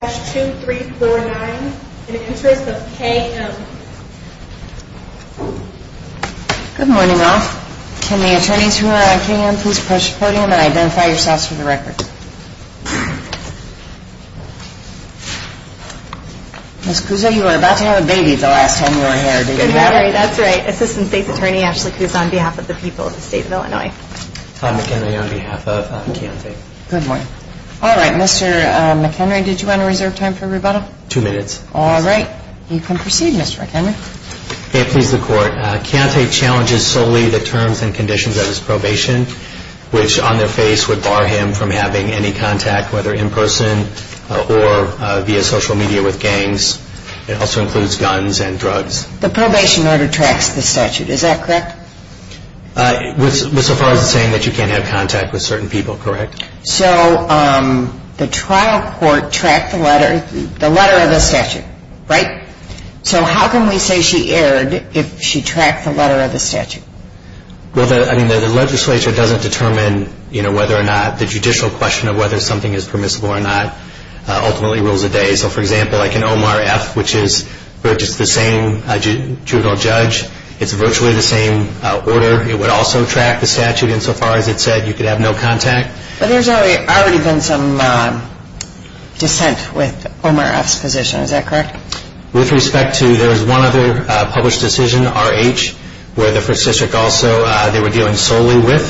Good morning, all. Can the attorneys who are on K.M. please approach the podium and identify yourselves for the record? Ms. Cuso, you were about to have a baby the last time you were here, didn't you? That's right. Assistant State's Attorney Ashley Cuso on behalf of the people of the state of Illinois. Tom McHenry on behalf of K.M.V. Good morning. All right, Mr. McHenry, did you want to reserve time for rebuttal? Two minutes. All right. You can proceed, Mr. McHenry. May it please the court, Keontae challenges solely the terms and conditions of his probation, which on their face would bar him from having any contact, whether in person or via social media with gangs. It also includes guns and drugs. The probation order tracks the statute. Is that correct? With so far as saying that you can't have contact with certain people, correct? So the trial court tracked the letter of the statute, right? So how can we say she erred if she tracked the letter of the statute? Well, the legislature doesn't determine whether or not the judicial question of whether something is permissible or not ultimately rules the day. So, for example, like in Omar F., which is the same juvenile judge, it's virtually the same order. It would also track the statute insofar as it said you could have no contact. But there's already been some dissent with Omar F.'s position. Is that correct? With respect to there's one other published decision, R.H., where the first district also, they were dealing solely with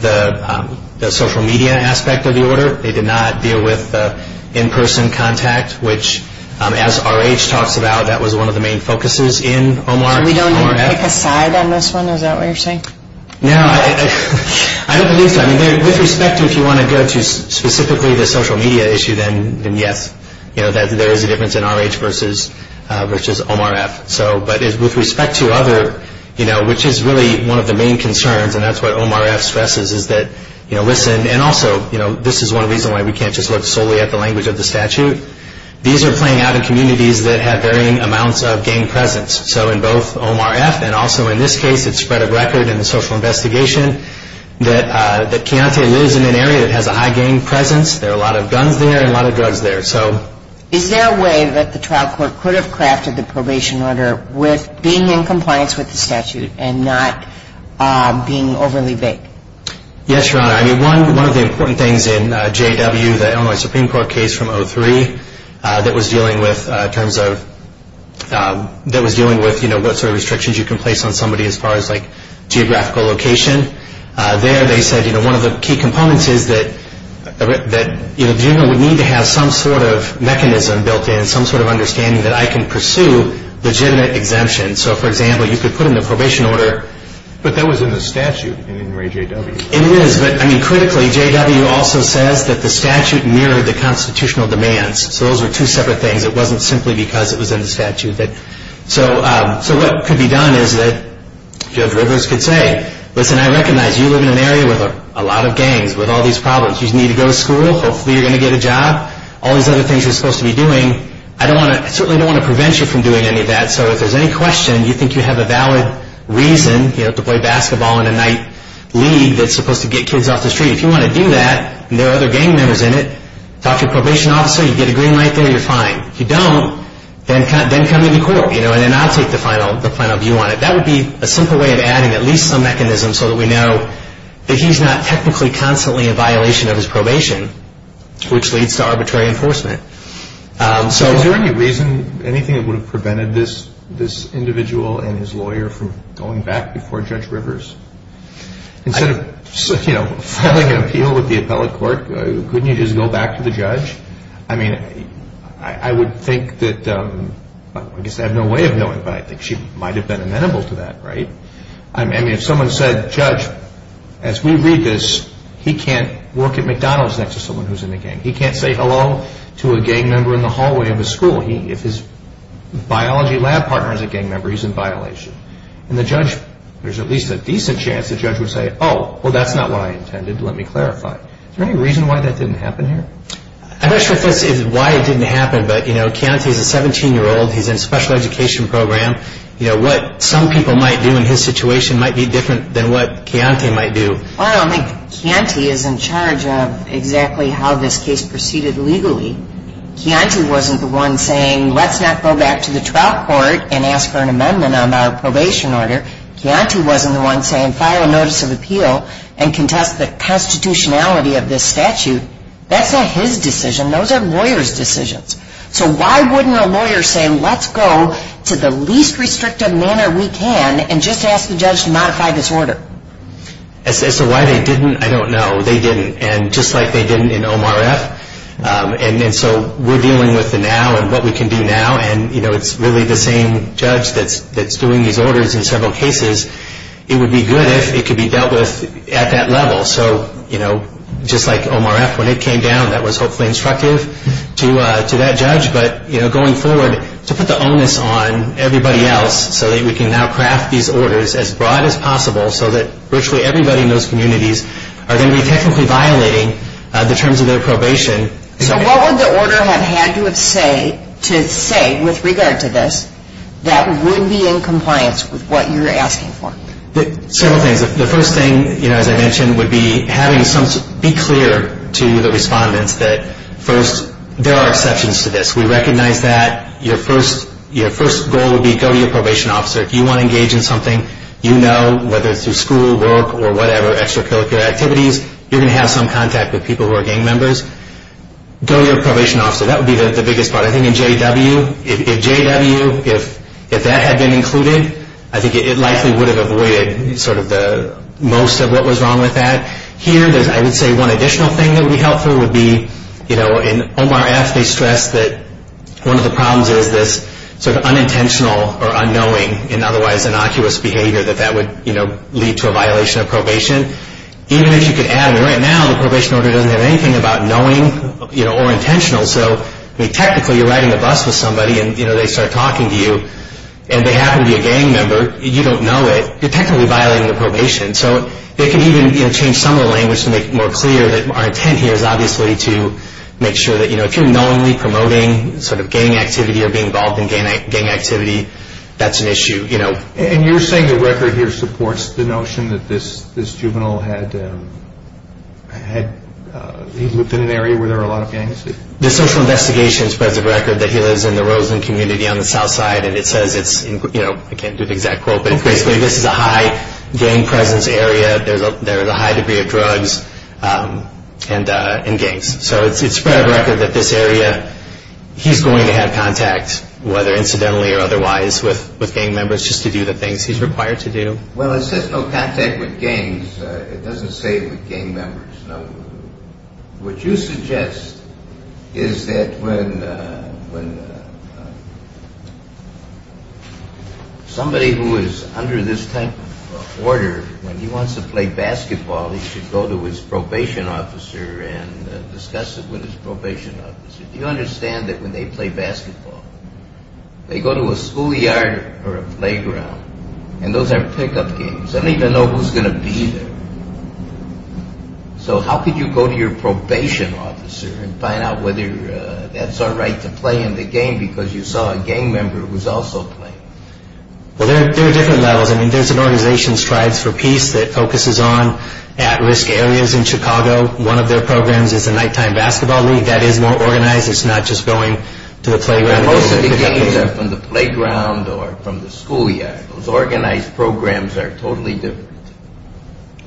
the social media aspect of the order. They did not deal with in-person contact, which as R.H. talks about, that was one of the main focuses in Omar F. We don't even pick a side on this one? Is that what you're saying? No, I don't believe so. With respect to if you want to go to specifically the social media issue, then yes, there is a difference in R.H. versus Omar F. But with respect to other, which is really one of the main concerns, and that's what Omar F. stresses, is that listen, and also this is one reason why we can't just look solely at the language of the statute. These are playing out in communities that have varying amounts of gang presence. So in both Omar F. and also in this case, it's spread of record in the social investigation that Keontae lives in an area that has a high gang presence. There are a lot of guns there and a lot of drugs there. Is there a way that the trial court could have crafted the probation order with being in compliance with the statute and not being overly vague? Yes, Your Honor. One of the important things in J.W., the Illinois Supreme Court case from 2003, that was dealing with what sort of restrictions you can place on somebody as far as geographical location, there they said one of the key components is that the juvenile would need to have some sort of mechanism built in, some sort of understanding that I can pursue legitimate exemptions. So, for example, you could put in the probation order. But that was in the statute in Ray J.W. It is, but critically, J.W. also says that the statute mirrored the constitutional demands. So those were two separate things. It wasn't simply because it was in the statute. So what could be done is that Judge Rivers could say, listen, I recognize you live in an area with a lot of gangs, with all these problems. You need to go to school. Hopefully you're going to get a job. All these other things you're supposed to be doing, I certainly don't want to prevent you from doing any of that. So if there's any question, you think you have a valid reason to play basketball in a night league that's supposed to get kids off the street, if you want to do that and there are other gang members in it, talk to a probation officer, you get a green light there, you're fine. If you don't, then come to the court. And then I'll take the final view on it. That would be a simple way of adding at least some mechanism so that we know that he's not technically constantly in violation of his probation, which leads to arbitrary enforcement. So is there any reason, anything that would have prevented this individual and his lawyer from going back before Judge Rivers? Instead of filing an appeal with the appellate court, couldn't you just go back to the judge? I mean, I would think that, I guess I have no way of knowing, but I think she might have been amenable to that, right? I mean, if someone said, Judge, as we read this, he can't work at McDonald's next to someone who's in a gang. He can't say hello to a gang member in the hallway of a school. If his biology lab partner is a gang member, he's in violation. And the judge, there's at least a decent chance the judge would say, oh, well, that's not what I intended, let me clarify. Is there any reason why that didn't happen here? I'm not sure if this is why it didn't happen, but, you know, Chianti is a 17-year-old. He's in a special education program. You know, what some people might do in his situation might be different than what Chianti might do. Well, I mean, Chianti is in charge of exactly how this case proceeded legally. Chianti wasn't the one saying let's not go back to the trial court and ask for an amendment on our probation order. Chianti wasn't the one saying file a notice of appeal and contest the constitutionality of this statute. That's not his decision. Those are lawyers' decisions. So why wouldn't a lawyer say let's go to the least restrictive manner we can and just ask the judge to modify this order? As to why they didn't, I don't know. They didn't. And just like they didn't in OMRF, and so we're dealing with the now and what we can do now, and, you know, it's really the same judge that's doing these orders in several cases. It would be good if it could be dealt with at that level. So, you know, just like OMRF, when it came down, that was hopefully instructive to that judge. But, you know, going forward, to put the onus on everybody else so that we can now craft these orders as broad as possible so that virtually everybody in those communities are going to be technically violating the terms of their probation. So what would the order have had to say with regard to this that would be in compliance with what you're asking for? Several things. The first thing, you know, as I mentioned, would be having some be clear to the respondents that, first, there are exceptions to this. We recognize that. Your first goal would be go to your probation officer. If you want to engage in something you know, whether it's through school, work, or whatever, extracurricular activities, you're going to have some contact with people who are gang members. Go to your probation officer. That would be the biggest part. I think in JW, if JW, if that had been included, I think it likely would have avoided sort of the most of what was wrong with that. Here, I would say one additional thing that would be helpful would be, you know, in OMRF, they stress that one of the problems is this sort of unintentional or unknowing and otherwise innocuous behavior that that would, you know, lead to a violation of probation. Even if you could add, I mean, right now, the probation order doesn't have anything about knowing, you know, or intentional. So, I mean, technically, you're riding a bus with somebody, and, you know, they start talking to you, and they happen to be a gang member, you don't know it, you're technically violating the probation. So they can even, you know, change some of the language to make it more clear that our intent here is obviously to make sure that, you know, if you're knowingly promoting sort of gang activity or being involved in gang activity, that's an issue, you know. And you're saying the record here supports the notion that this juvenile had, he lived in an area where there were a lot of gangs? The social investigation spreads the record that he lives in the Roseland community on the south side, and it says it's, you know, I can't do the exact quote, but basically this is a high gang presence area. There is a high degree of drugs and gangs. So it spreads the record that this area, he's going to have contact, whether incidentally or otherwise, with gang members just to do the things he's required to do. Well, it says no contact with gangs. It doesn't say with gang members. No. What you suggest is that when somebody who is under this type of order, when he wants to play basketball, he should go to his probation officer and discuss it with his probation officer. Do you understand that when they play basketball, they go to a schoolyard or a playground, and those are pickup games. They don't even know who's going to be there. So how could you go to your probation officer and find out whether that's all right to play in the game because you saw a gang member who was also playing? Well, there are different levels. There's an organization, Strides for Peace, that focuses on at-risk areas in Chicago. One of their programs is the nighttime basketball league. That is more organized. It's not just going to the playground. Most of the games are from the playground or from the schoolyard. Those organized programs are totally different.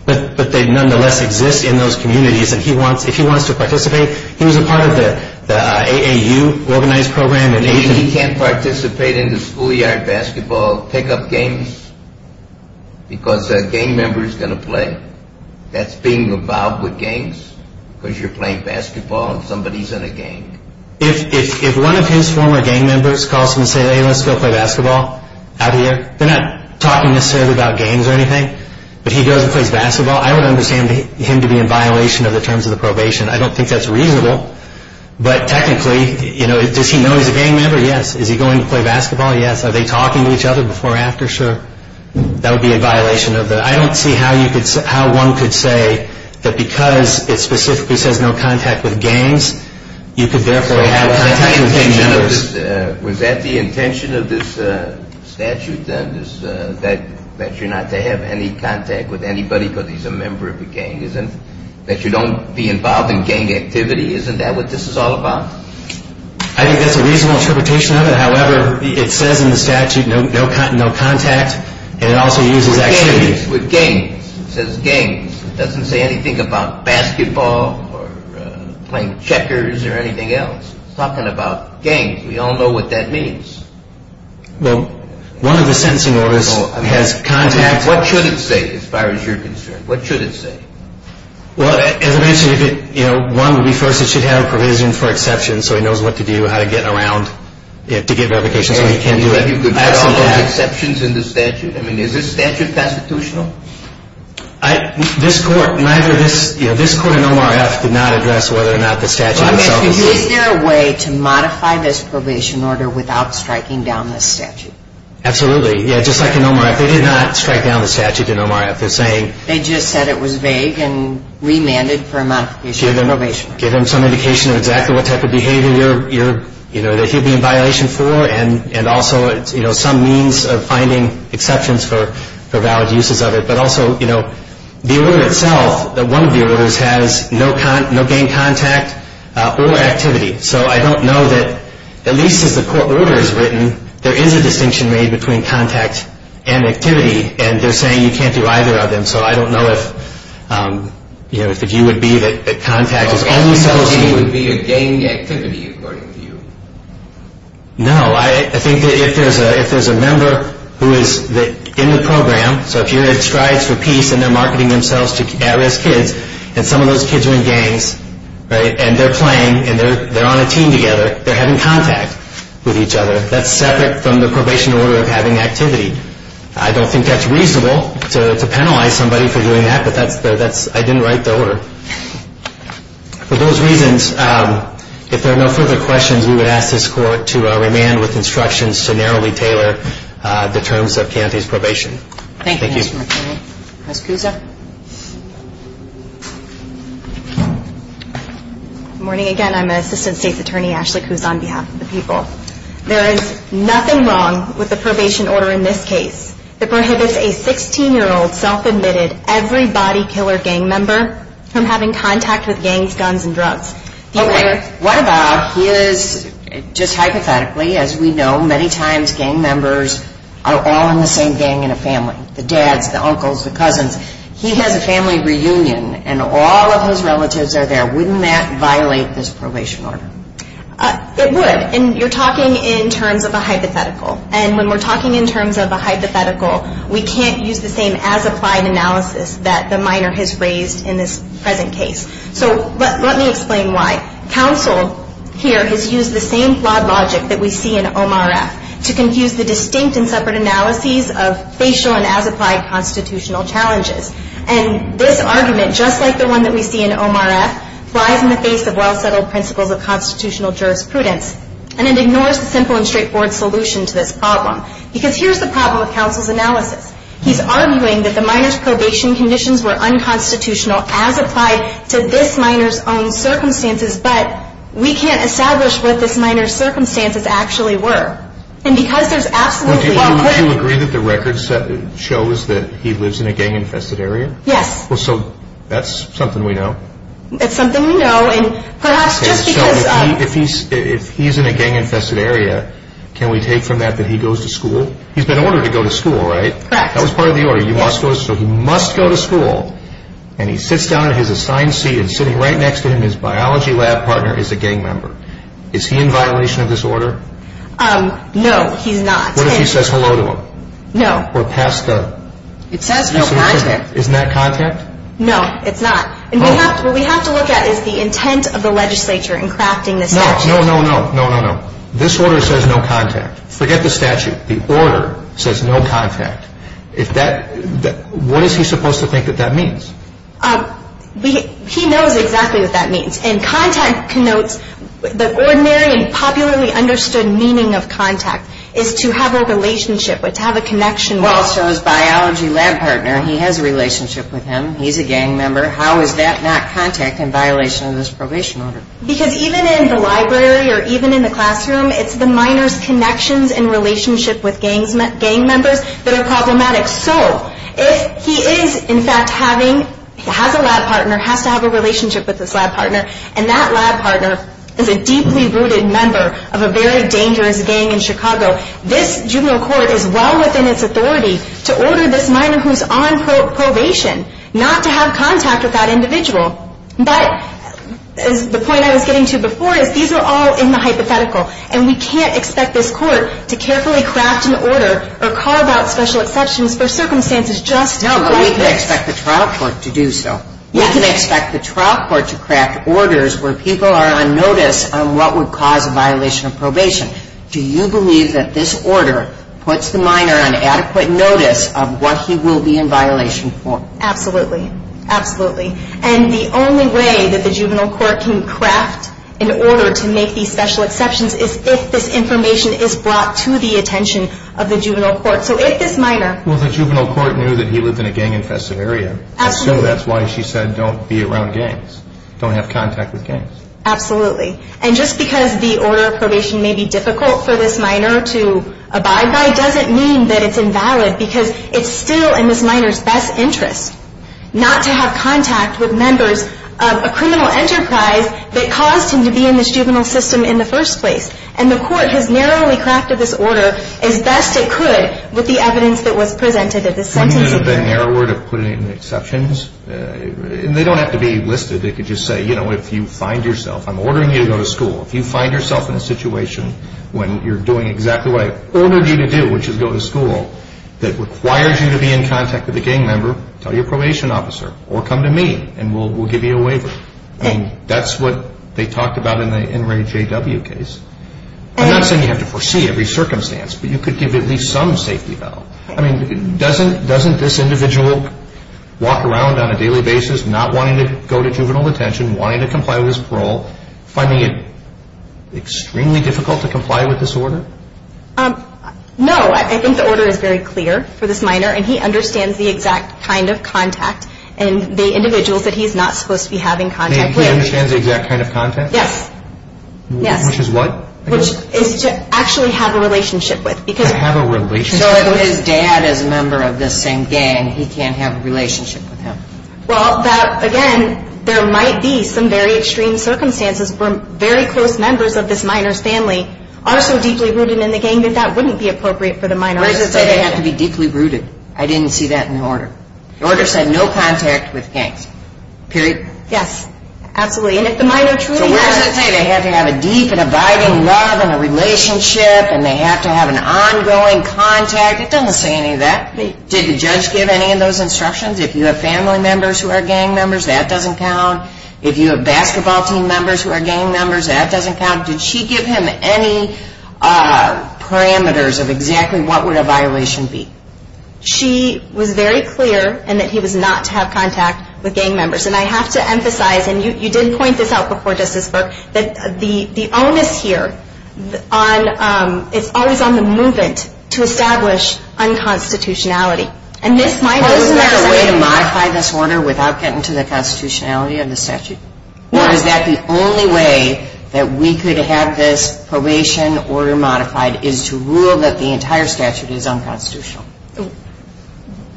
But they nonetheless exist in those communities. If he wants to participate, he was a part of the AAU organized program. If he can't participate in the schoolyard basketball pickup games because a gang member is going to play, that's being involved with gangs because you're playing basketball and somebody is in a gang. If one of his former gang members calls him and says, hey, let's go play basketball out here, they're not talking necessarily about games or anything, but he goes and plays basketball, I would understand him to be in violation of the terms of the probation. I don't think that's reasonable. But technically, does he know he's a gang member? Yes. Is he going to play basketball? Yes. Are they talking to each other before or after? Sure. That would be a violation of the – I don't see how one could say that because it specifically says no contact with gangs, you could therefore have contact with gang members. Was that the intention of this statute then, that you're not to have any contact with anybody because he's a member of a gang? That you don't be involved in gang activity? Isn't that what this is all about? I think that's a reasonable interpretation of it. However, it says in the statute no contact and it also uses – With gangs. It says gangs. It doesn't say anything about basketball or playing checkers or anything else. It's talking about gangs. We all know what that means. Well, one of the sentencing orders has contact – What should it say as far as you're concerned? What should it say? Well, as I mentioned, one would be first it should have a provision for exception so he knows what to do, how to get around, to get verifications when he can't do it. You could have exceptions in the statute? I mean, is this statute constitutional? This court, this court in OMRF did not address whether or not the statute itself was – Is there a way to modify this probation order without striking down this statute? Absolutely. Yeah, just like in OMRF. They did not strike down the statute in OMRF. They just said it was vague and remanded for modification of probation. Give him some indication of exactly what type of behavior that he'd be in violation for and also some means of finding exceptions for valid uses of it. But also the order itself, one of the orders has no gang contact or activity. So I don't know that at least as the court order is written, there is a distinction made between contact and activity, and they're saying you can't do either of them. So I don't know if, you know, if the view would be that contact is only supposed to be – Okay, so the view would be a gang activity according to you? No. I think that if there's a member who is in the program, so if you're at Strides for Peace and they're marketing themselves to at-risk kids and some of those kids are in gangs, right, and they're playing and they're on a team together, they're having contact with each other. That's separate from the probation order of having activity. I don't think that's reasonable to penalize somebody for doing that, but I didn't write the order. For those reasons, if there are no further questions, we would ask this court to remand with instructions to narrowly tailor the terms of Keante's probation. Thank you. Thank you, Mr. McKinney. Ms. Cusa. Good morning again. I'm Assistant State's Attorney Ashley Cusa on behalf of the people. There is nothing wrong with the probation order in this case that prohibits a 16-year-old self-admitted every-body-killer gang member from having contact with gangs, guns, and drugs. Okay, what about his – just hypothetically, as we know, many times gang members are all in the same gang in a family, the dads, the uncles, the cousins. He has a family reunion and all of his relatives are there. Wouldn't that violate this probation order? It would, and you're talking in terms of a hypothetical. And when we're talking in terms of a hypothetical, we can't use the same as-applied analysis that the minor has raised in this present case. So let me explain why. Counsel here has used the same flawed logic that we see in OMRF to confuse the distinct and separate analyses of facial and as-applied constitutional challenges. And this argument, just like the one that we see in OMRF, lies in the face of well-settled principles of constitutional jurisprudence, and it ignores the simple and straightforward solution to this problem. Because here's the problem with counsel's analysis. He's arguing that the minor's probation conditions were unconstitutional as applied to this minor's own circumstances, but we can't establish what this minor's circumstances actually were. And because there's absolutely – Do you agree that the record shows that he lives in a gang-infested area? Yes. So that's something we know? It's something we know, and perhaps just because – Okay, so if he's in a gang-infested area, can we take from that that he goes to school? He's been ordered to go to school, right? Correct. That was part of the order. So he must go to school, and he sits down in his assigned seat, and sitting right next to him, his biology lab partner, is a gang member. Is he in violation of this order? No, he's not. What if he says hello to him? No. Or pass the – It says no contact. Isn't that contact? No, it's not. What we have to look at is the intent of the legislature in crafting this statute. No, no, no, no, no, no, no. This order says no contact. Forget the statute. The order says no contact. If that – what is he supposed to think that that means? He knows exactly what that means. And contact connotes the ordinary and popularly understood meaning of contact is to have a relationship, to have a connection. Well, so his biology lab partner, he has a relationship with him. He's a gang member. How is that not contact in violation of this probation order? Because even in the library or even in the classroom, it's the minor's connections and relationship with gang members that are problematic. So if he is, in fact, having – has a lab partner, has to have a relationship with this lab partner, and that lab partner is a deeply rooted member of a very dangerous gang in Chicago, this juvenile court is well within its authority to order this minor who's on probation not to have contact with that individual. But the point I was getting to before is these are all in the hypothetical, and we can't expect this court to carefully craft an order or call about special exceptions for circumstances just like this. No, but we can expect the trial court to do so. We can expect the trial court to craft orders where people are on notice on what would cause a violation of probation. Do you believe that this order puts the minor on adequate notice of what he will be in violation for? Absolutely. Absolutely. And the only way that the juvenile court can craft an order to make these special exceptions is if this information is brought to the attention of the juvenile court. So if this minor – Well, the juvenile court knew that he lived in a gang-infested area. Absolutely. So that's why she said don't be around gangs. Don't have contact with gangs. Absolutely. And just because the order of probation may be difficult for this minor to abide by doesn't mean that it's invalid because it's still in this minor's best interest not to have contact with members of a criminal enterprise that caused him to be in this juvenile system in the first place. And the court has narrowly crafted this order as best it could with the evidence that was presented at this sentencing hearing. Wouldn't it have been narrower to put in exceptions? And they don't have to be listed. They could just say, you know, if you find yourself – I'm ordering you to go to school. If you find yourself in a situation when you're doing exactly what I ordered you to do, which is go to school, that requires you to be in contact with a gang member, tell your probation officer or come to me and we'll give you a waiver. And that's what they talked about in the NRAJW case. I'm not saying you have to foresee every circumstance, but you could give at least some safety valve. I mean, doesn't this individual walk around on a daily basis not wanting to go to juvenile detention, wanting to comply with his parole, finding it extremely difficult to comply with this order? No. I think the order is very clear for this minor, and he understands the exact kind of contact and the individuals that he's not supposed to be having contact with. He understands the exact kind of contact? Yes. Yes. Which is what? Which is to actually have a relationship with. To have a relationship with? So if his dad is a member of this same gang, he can't have a relationship with him. Well, again, there might be some very extreme circumstances where very close members of this minor's family are so deeply rooted in the gang that that wouldn't be appropriate for the minor. Where does it say they have to be deeply rooted? I didn't see that in the order. The order said no contact with gangs. Period. Yes. Absolutely. And if the minor truly has... So where does it say they have to have a deep and abiding love and a relationship and they have to have an ongoing contact? It doesn't say any of that. Did the judge give any of those instructions? If you have family members who are gang members, that doesn't count. If you have basketball team members who are gang members, that doesn't count. Did she give him any parameters of exactly what would a violation be? She was very clear in that he was not to have contact with gang members. And I have to emphasize, and you did point this out before, Justice Burke, that the onus here is always on the movement to establish unconstitutionality. Is there a way to modify this order without getting to the constitutionality of the statute? Or is that the only way that we could have this probation order modified, is to rule that the entire statute is unconstitutional?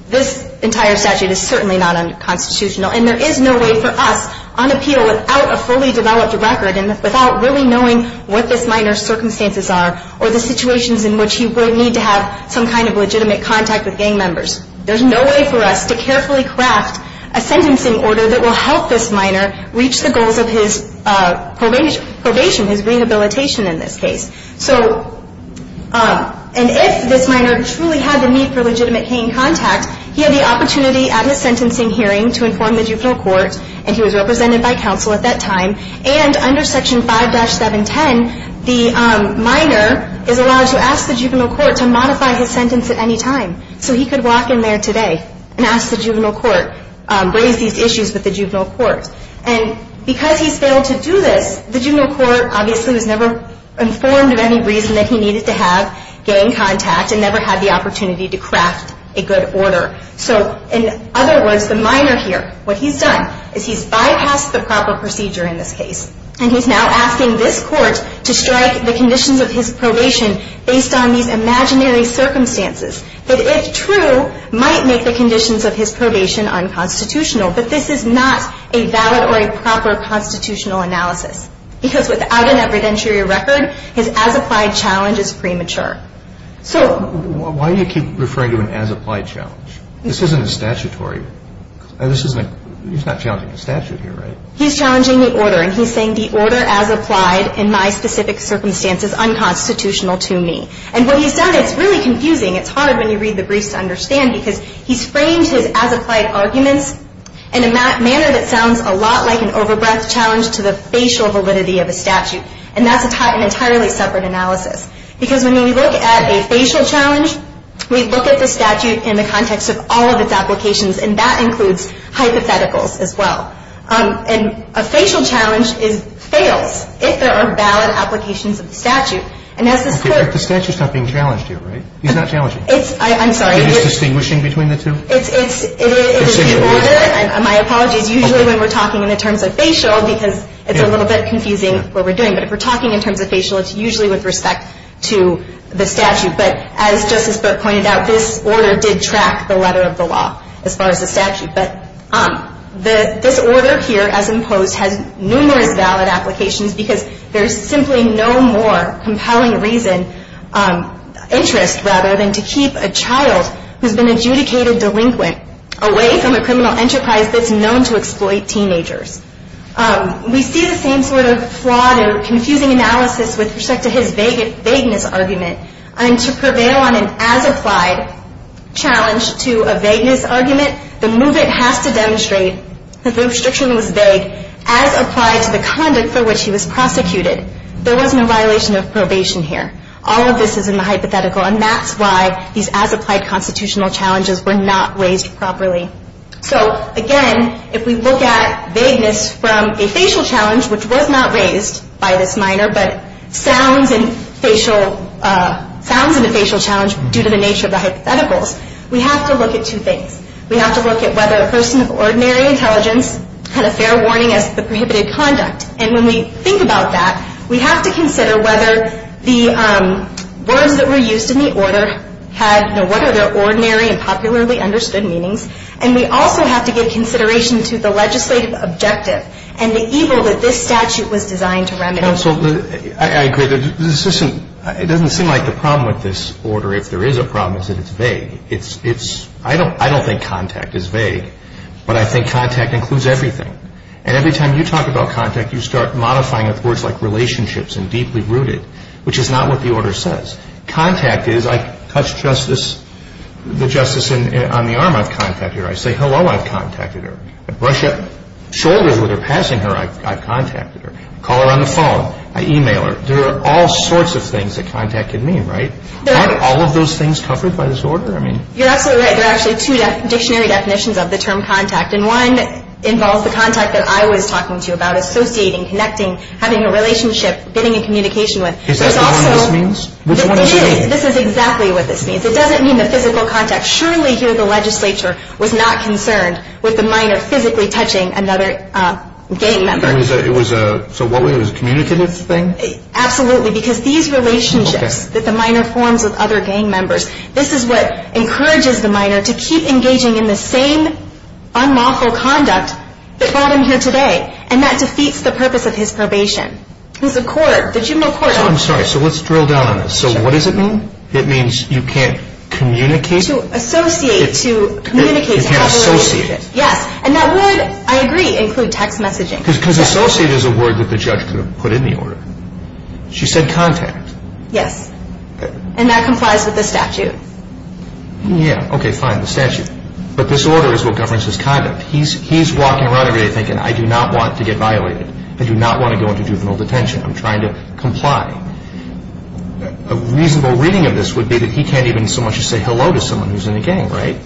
This entire statute is certainly not unconstitutional, and there is no way for us on appeal without a fully developed record and without really knowing what this minor's circumstances are or the situations in which he would need to have some kind of legitimate contact with gang members. There's no way for us to carefully craft a sentencing order that will help this minor reach the goals of his probation, his rehabilitation in this case. And if this minor truly had the need for legitimate gang contact, he had the opportunity at his sentencing hearing to inform the juvenile court, and he was represented by counsel at that time, and under Section 5-710, the minor is allowed to ask the juvenile court to modify his sentence at any time. So he could walk in there today and ask the juvenile court, raise these issues with the juvenile court. And because he's failed to do this, the juvenile court obviously was never informed of any reason that he needed to have gang contact and never had the opportunity to craft a good order. So in other words, the minor here, what he's done is he's bypassed the proper procedure in this case, and he's now asking this court to strike the conditions of his probation based on these imaginary circumstances that, if true, might make the conditions of his probation unconstitutional. But this is not a valid or a proper constitutional analysis because without an evidentiary record, his as-applied challenge is premature. So... Why do you keep referring to an as-applied challenge? This isn't a statutory... This isn't... He's not challenging the statute here, right? He's challenging the order, and he's saying, the order as applied in my specific circumstance is unconstitutional to me. And what he's done is really confusing. It's hard when you read the briefs to understand because he's framed his as-applied arguments in a manner that sounds a lot like an over-breath challenge to the facial validity of a statute, and that's an entirely separate analysis. Because when we look at a facial challenge, we look at the statute in the context of all of its applications, and that includes hypotheticals as well. And a facial challenge is... fails if there are valid applications of the statute. And as this court... Okay, but the statute's not being challenged here, right? He's not challenging. It's... I'm sorry. It is distinguishing between the two? It's... It's... My apologies. Usually when we're talking in the terms of facial, because it's a little bit confusing what we're doing. But if we're talking in terms of facial, it's usually with respect to the statute. But as Justice Burke pointed out, this order did track the letter of the law as far as the statute. But this order here, as imposed, has numerous valid applications because there's simply no more compelling reason... interest, rather, than to keep a child who's been adjudicated delinquent away from a criminal enterprise that's known to exploit teenagers. We see the same sort of flawed and confusing analysis with respect to his vagueness argument. And to prevail on an as-applied challenge to a vagueness argument, the movement has to demonstrate that the restriction was vague as applied to the conduct for which he was prosecuted. There wasn't a violation of probation here. All of this is in the hypothetical. And that's why these as-applied constitutional challenges were not raised properly. So, again, if we look at vagueness from a facial challenge, which was not raised by this minor, but sounds in a facial challenge due to the nature of the hypotheticals, we have to look at two things. We have to look at whether a person of ordinary intelligence had a fair warning as the prohibited conduct. And when we think about that, we have to consider whether the words that were used in the order had the ordinary and popularly understood meanings. And we also have to give consideration to the legislative objective and the evil that this statute was designed to remedy. I agree. It doesn't seem like the problem with this order, if there is a problem, is that it's vague. I don't think contact is vague, but I think contact includes everything. And every time you talk about contact, you start modifying it with words like relationships and deeply rooted, which is not what the order says. Contact is, I touch the justice on the arm, I've contacted her. I say hello, I've contacted her. I brush up shoulders with her passing her, I've contacted her. I call her on the phone. I e-mail her. There are all sorts of things that contact can mean, right? Aren't all of those things covered by this order? You're absolutely right. There are actually two dictionary definitions of the term contact, and one involves the contact that I was talking to you about, associating, connecting, having a relationship, getting in communication with. Is that what this means? This is exactly what this means. It doesn't mean the physical contact. Surely here the legislature was not concerned with the minor physically touching another gang member. So it was a communicative thing? Absolutely, because these relationships that the minor forms with other gang members, this is what encourages the minor to keep engaging in the same unlawful conduct that brought him here today, and that defeats the purpose of his probation. There's a court, the juvenile court. I'm sorry. So let's drill down on this. So what does it mean? It means you can't communicate? To associate, to communicate, to have a relationship. You can't associate. Yes, and that would, I agree, include text messaging. Because associate is a word that the judge could have put in the order. She said contact. Yes, and that complies with the statute. Yeah, okay, fine, the statute. But this order is what governs his conduct. He's walking around today thinking, I do not want to get violated. I do not want to go into juvenile detention. I'm trying to comply. A reasonable reading of this would be that he can't even so much as say hello to someone who's in a gang, right?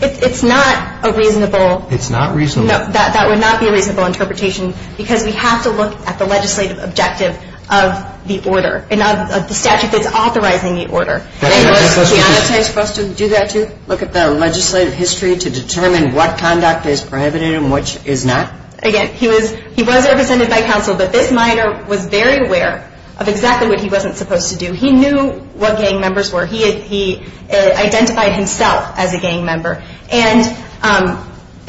It's not a reasonable. It's not reasonable. No, that would not be a reasonable interpretation, because we have to look at the legislative objective of the order, the statute that's authorizing the order. And does he have a choice for us to do that too, look at the legislative history to determine what conduct is prohibited and which is not? Again, he was represented by counsel, but this minor was very aware of exactly what he wasn't supposed to do. He knew what gang members were. He identified himself as a gang member. And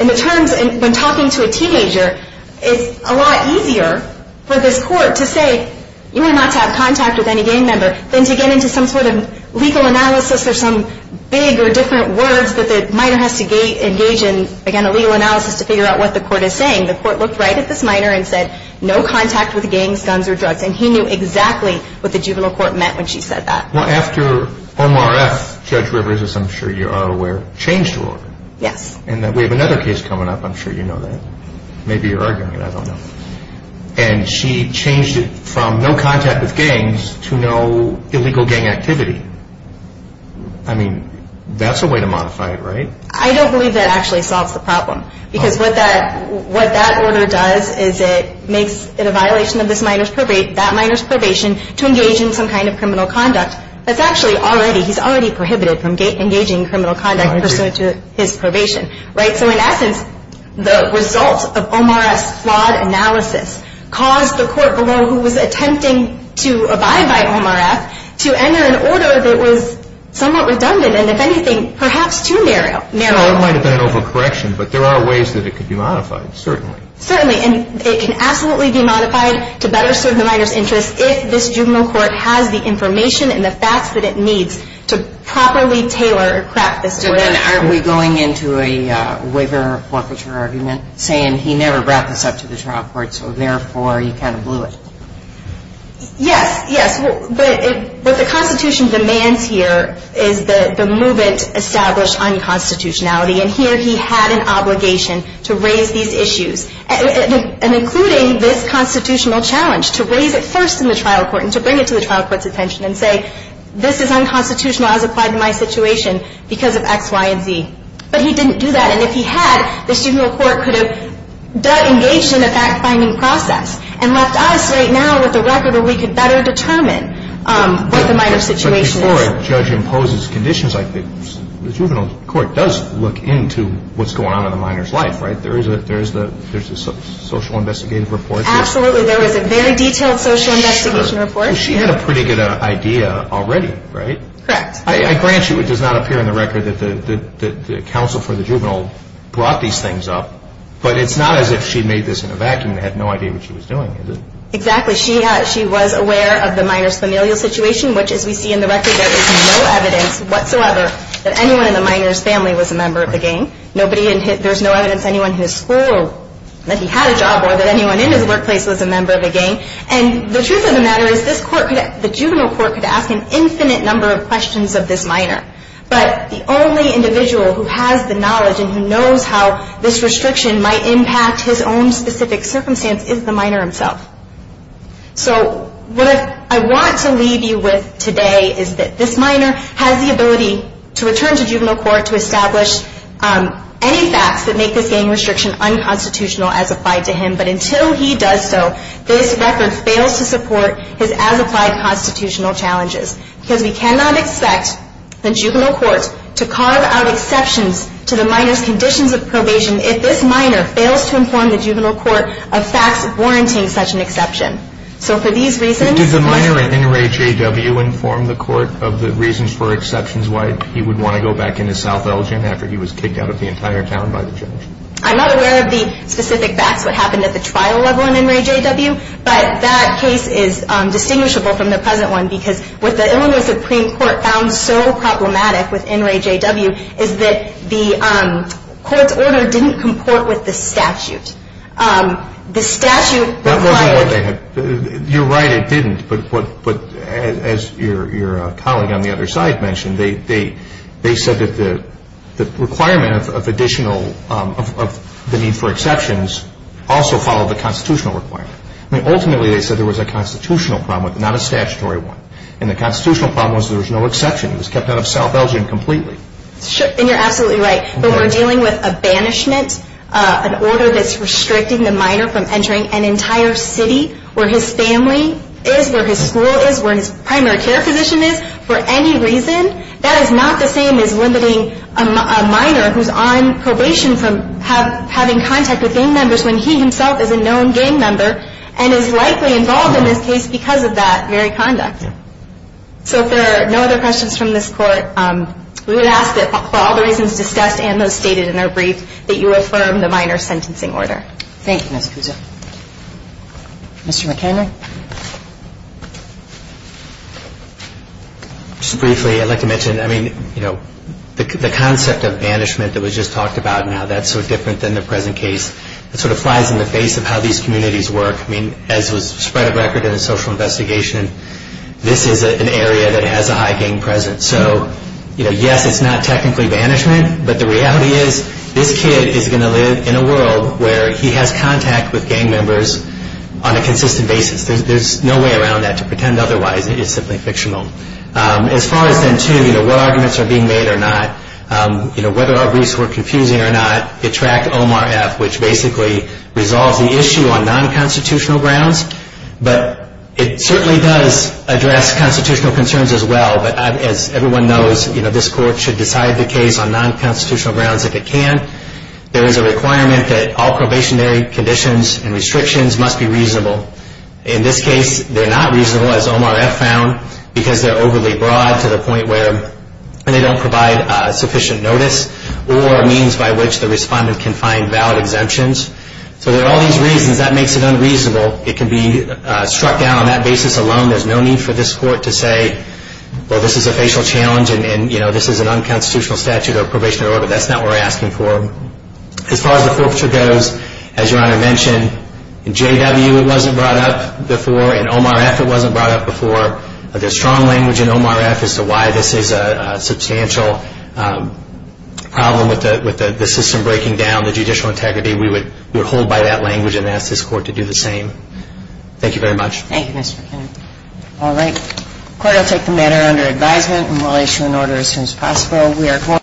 in the terms, when talking to a teenager, it's a lot easier for this court to say, you are not to have contact with any gang member, than to get into some sort of legal analysis or some big or different words that the minor has to engage in, again, a legal analysis to figure out what the court is saying. The court looked right at this minor and said, no contact with gangs, guns, or drugs. And he knew exactly what the juvenile court meant when she said that. Well, after Omar F., Judge Rivers, as I'm sure you are aware, changed the order. Yes. And we have another case coming up. I'm sure you know that. Maybe you're arguing it. I don't know. And she changed it from no contact with gangs to no illegal gang activity. I mean, that's a way to modify it, right? I don't believe that actually solves the problem. Because what that order does is it makes it a violation of that minor's probation to engage in some kind of criminal conduct that's actually already, he's already prohibited from engaging in criminal conduct pursuant to his probation. So in essence, the result of Omar F.'s flawed analysis caused the court below, who was attempting to abide by Omar F., to enter an order that was somewhat redundant and, if anything, perhaps too narrow. So it might have been an overcorrection. But there are ways that it could be modified, certainly. Certainly. And it can absolutely be modified to better serve the minor's interests if this juvenile court has the information and the facts that it needs to properly tailor or craft this judgment. So then aren't we going into a waiver or forfeiture argument saying he never brought this up to the trial court, so therefore you kind of blew it? Yes, yes. What the Constitution demands here is the movement established on constitutionality. And here he had an obligation to raise these issues, and including this constitutional challenge to raise it first in the trial court and to bring it to the trial court's attention and say, this is unconstitutional as applied to my situation because of X, Y, and Z. But he didn't do that. And if he had, the juvenile court could have engaged in a fact-finding process and left us right now with a record where we could better determine what the minor's situation is. But before a judge imposes conditions, I think the juvenile court does look into what's going on in the minor's life, right? There is a social investigative report. Absolutely. There is a very detailed social investigation report. She had a pretty good idea already, right? Correct. I grant you it does not appear in the record that the counsel for the juvenile brought these things up, but it's not as if she made this in a vacuum and had no idea what she was doing, is it? Exactly. She was aware of the minor's familial situation, which as we see in the record there is no evidence whatsoever that anyone in the minor's family was a member of the gang. There's no evidence anyone in his school that he had a job or that anyone in his workplace was a member of the gang. And the truth of the matter is the juvenile court could ask an infinite number of questions of this minor, but the only individual who has the knowledge and who knows how this restriction might impact his own specific circumstance is the minor himself. So what I want to leave you with today is that this minor has the ability to return to juvenile court to establish any facts that make this gang restriction unconstitutional as applied to him, but until he does so, this record fails to support his as-applied constitutional challenges because we cannot expect the juvenile court to carve out exceptions to the minor's conditions of probation if this minor fails to inform the juvenile court of facts warranting such an exception. So for these reasons... Did the minor at NRAJW inform the court of the reasons for exceptions why he would want to go back into South Elgin after he was kicked out of the entire town by the judge? I'm not aware of the specific facts, what happened at the trial level at NRAJW, but that case is distinguishable from the present one because what the Illinois Supreme Court found so problematic with NRAJW is that the court's order didn't comport with the statute. The statute required... That wasn't what they had... You're right, it didn't, but as your colleague on the other side mentioned, they said that the requirement of the need for exceptions also followed the constitutional requirement. Ultimately, they said there was a constitutional problem, not a statutory one, and the constitutional problem was there was no exception. He was kept out of South Elgin completely. And you're absolutely right, but we're dealing with a banishment, an order that's restricting the minor from entering an entire city where his family is, where his school is, where his primary care physician is, for any reason. That is not the same as limiting a minor who's on probation from having contact with gang members when he himself is a known gang member and is likely involved in this case because of that very conduct. So if there are no other questions from this Court, we would ask that for all the reasons discussed and those stated in our brief that you affirm the minor's sentencing order. Thank you, Ms. Puzo. Mr. McHenry? Just briefly, I'd like to mention, I mean, you know, the concept of banishment that was just talked about now, that's so different than the present case. It sort of flies in the face of how these communities work. I mean, as was spread of record in the social investigation, this is an area that has a high gang presence. So, you know, yes, it's not technically banishment, but the reality is this kid is going to live in a world where he has contact with gang members on a consistent basis. There's no way around that. To pretend otherwise is simply fictional. As far as then, too, you know, what arguments are being made or not, you know, whether our briefs were confusing or not, it tracked OMRF, which basically resolves the issue on non-constitutional grounds. But it certainly does address constitutional concerns as well. But as everyone knows, you know, this court should decide the case on non-constitutional grounds if it can. There is a requirement that all probationary conditions and restrictions must be reasonable. In this case, they're not reasonable, as OMRF found, because they're overly broad to the point where they don't provide sufficient notice or means by which the respondent can find valid exemptions. So there are all these reasons. That makes it unreasonable. It can be struck down on that basis alone. There's no need for this court to say, well, this is a facial challenge and, you know, this is an unconstitutional statute or probationary order. That's not what we're asking for. As far as the forfeiture goes, as Your Honor mentioned, in JW it wasn't brought up before. In OMRF it wasn't brought up before. There's strong language in OMRF as to why this is a substantial problem with the system breaking down, the judicial integrity. We would hold by that language and ask this court to do the same. Thank you very much. Thank you, Mr. McKinnon. All right. The court will take the matter under advisement and will issue an order as soon as possible.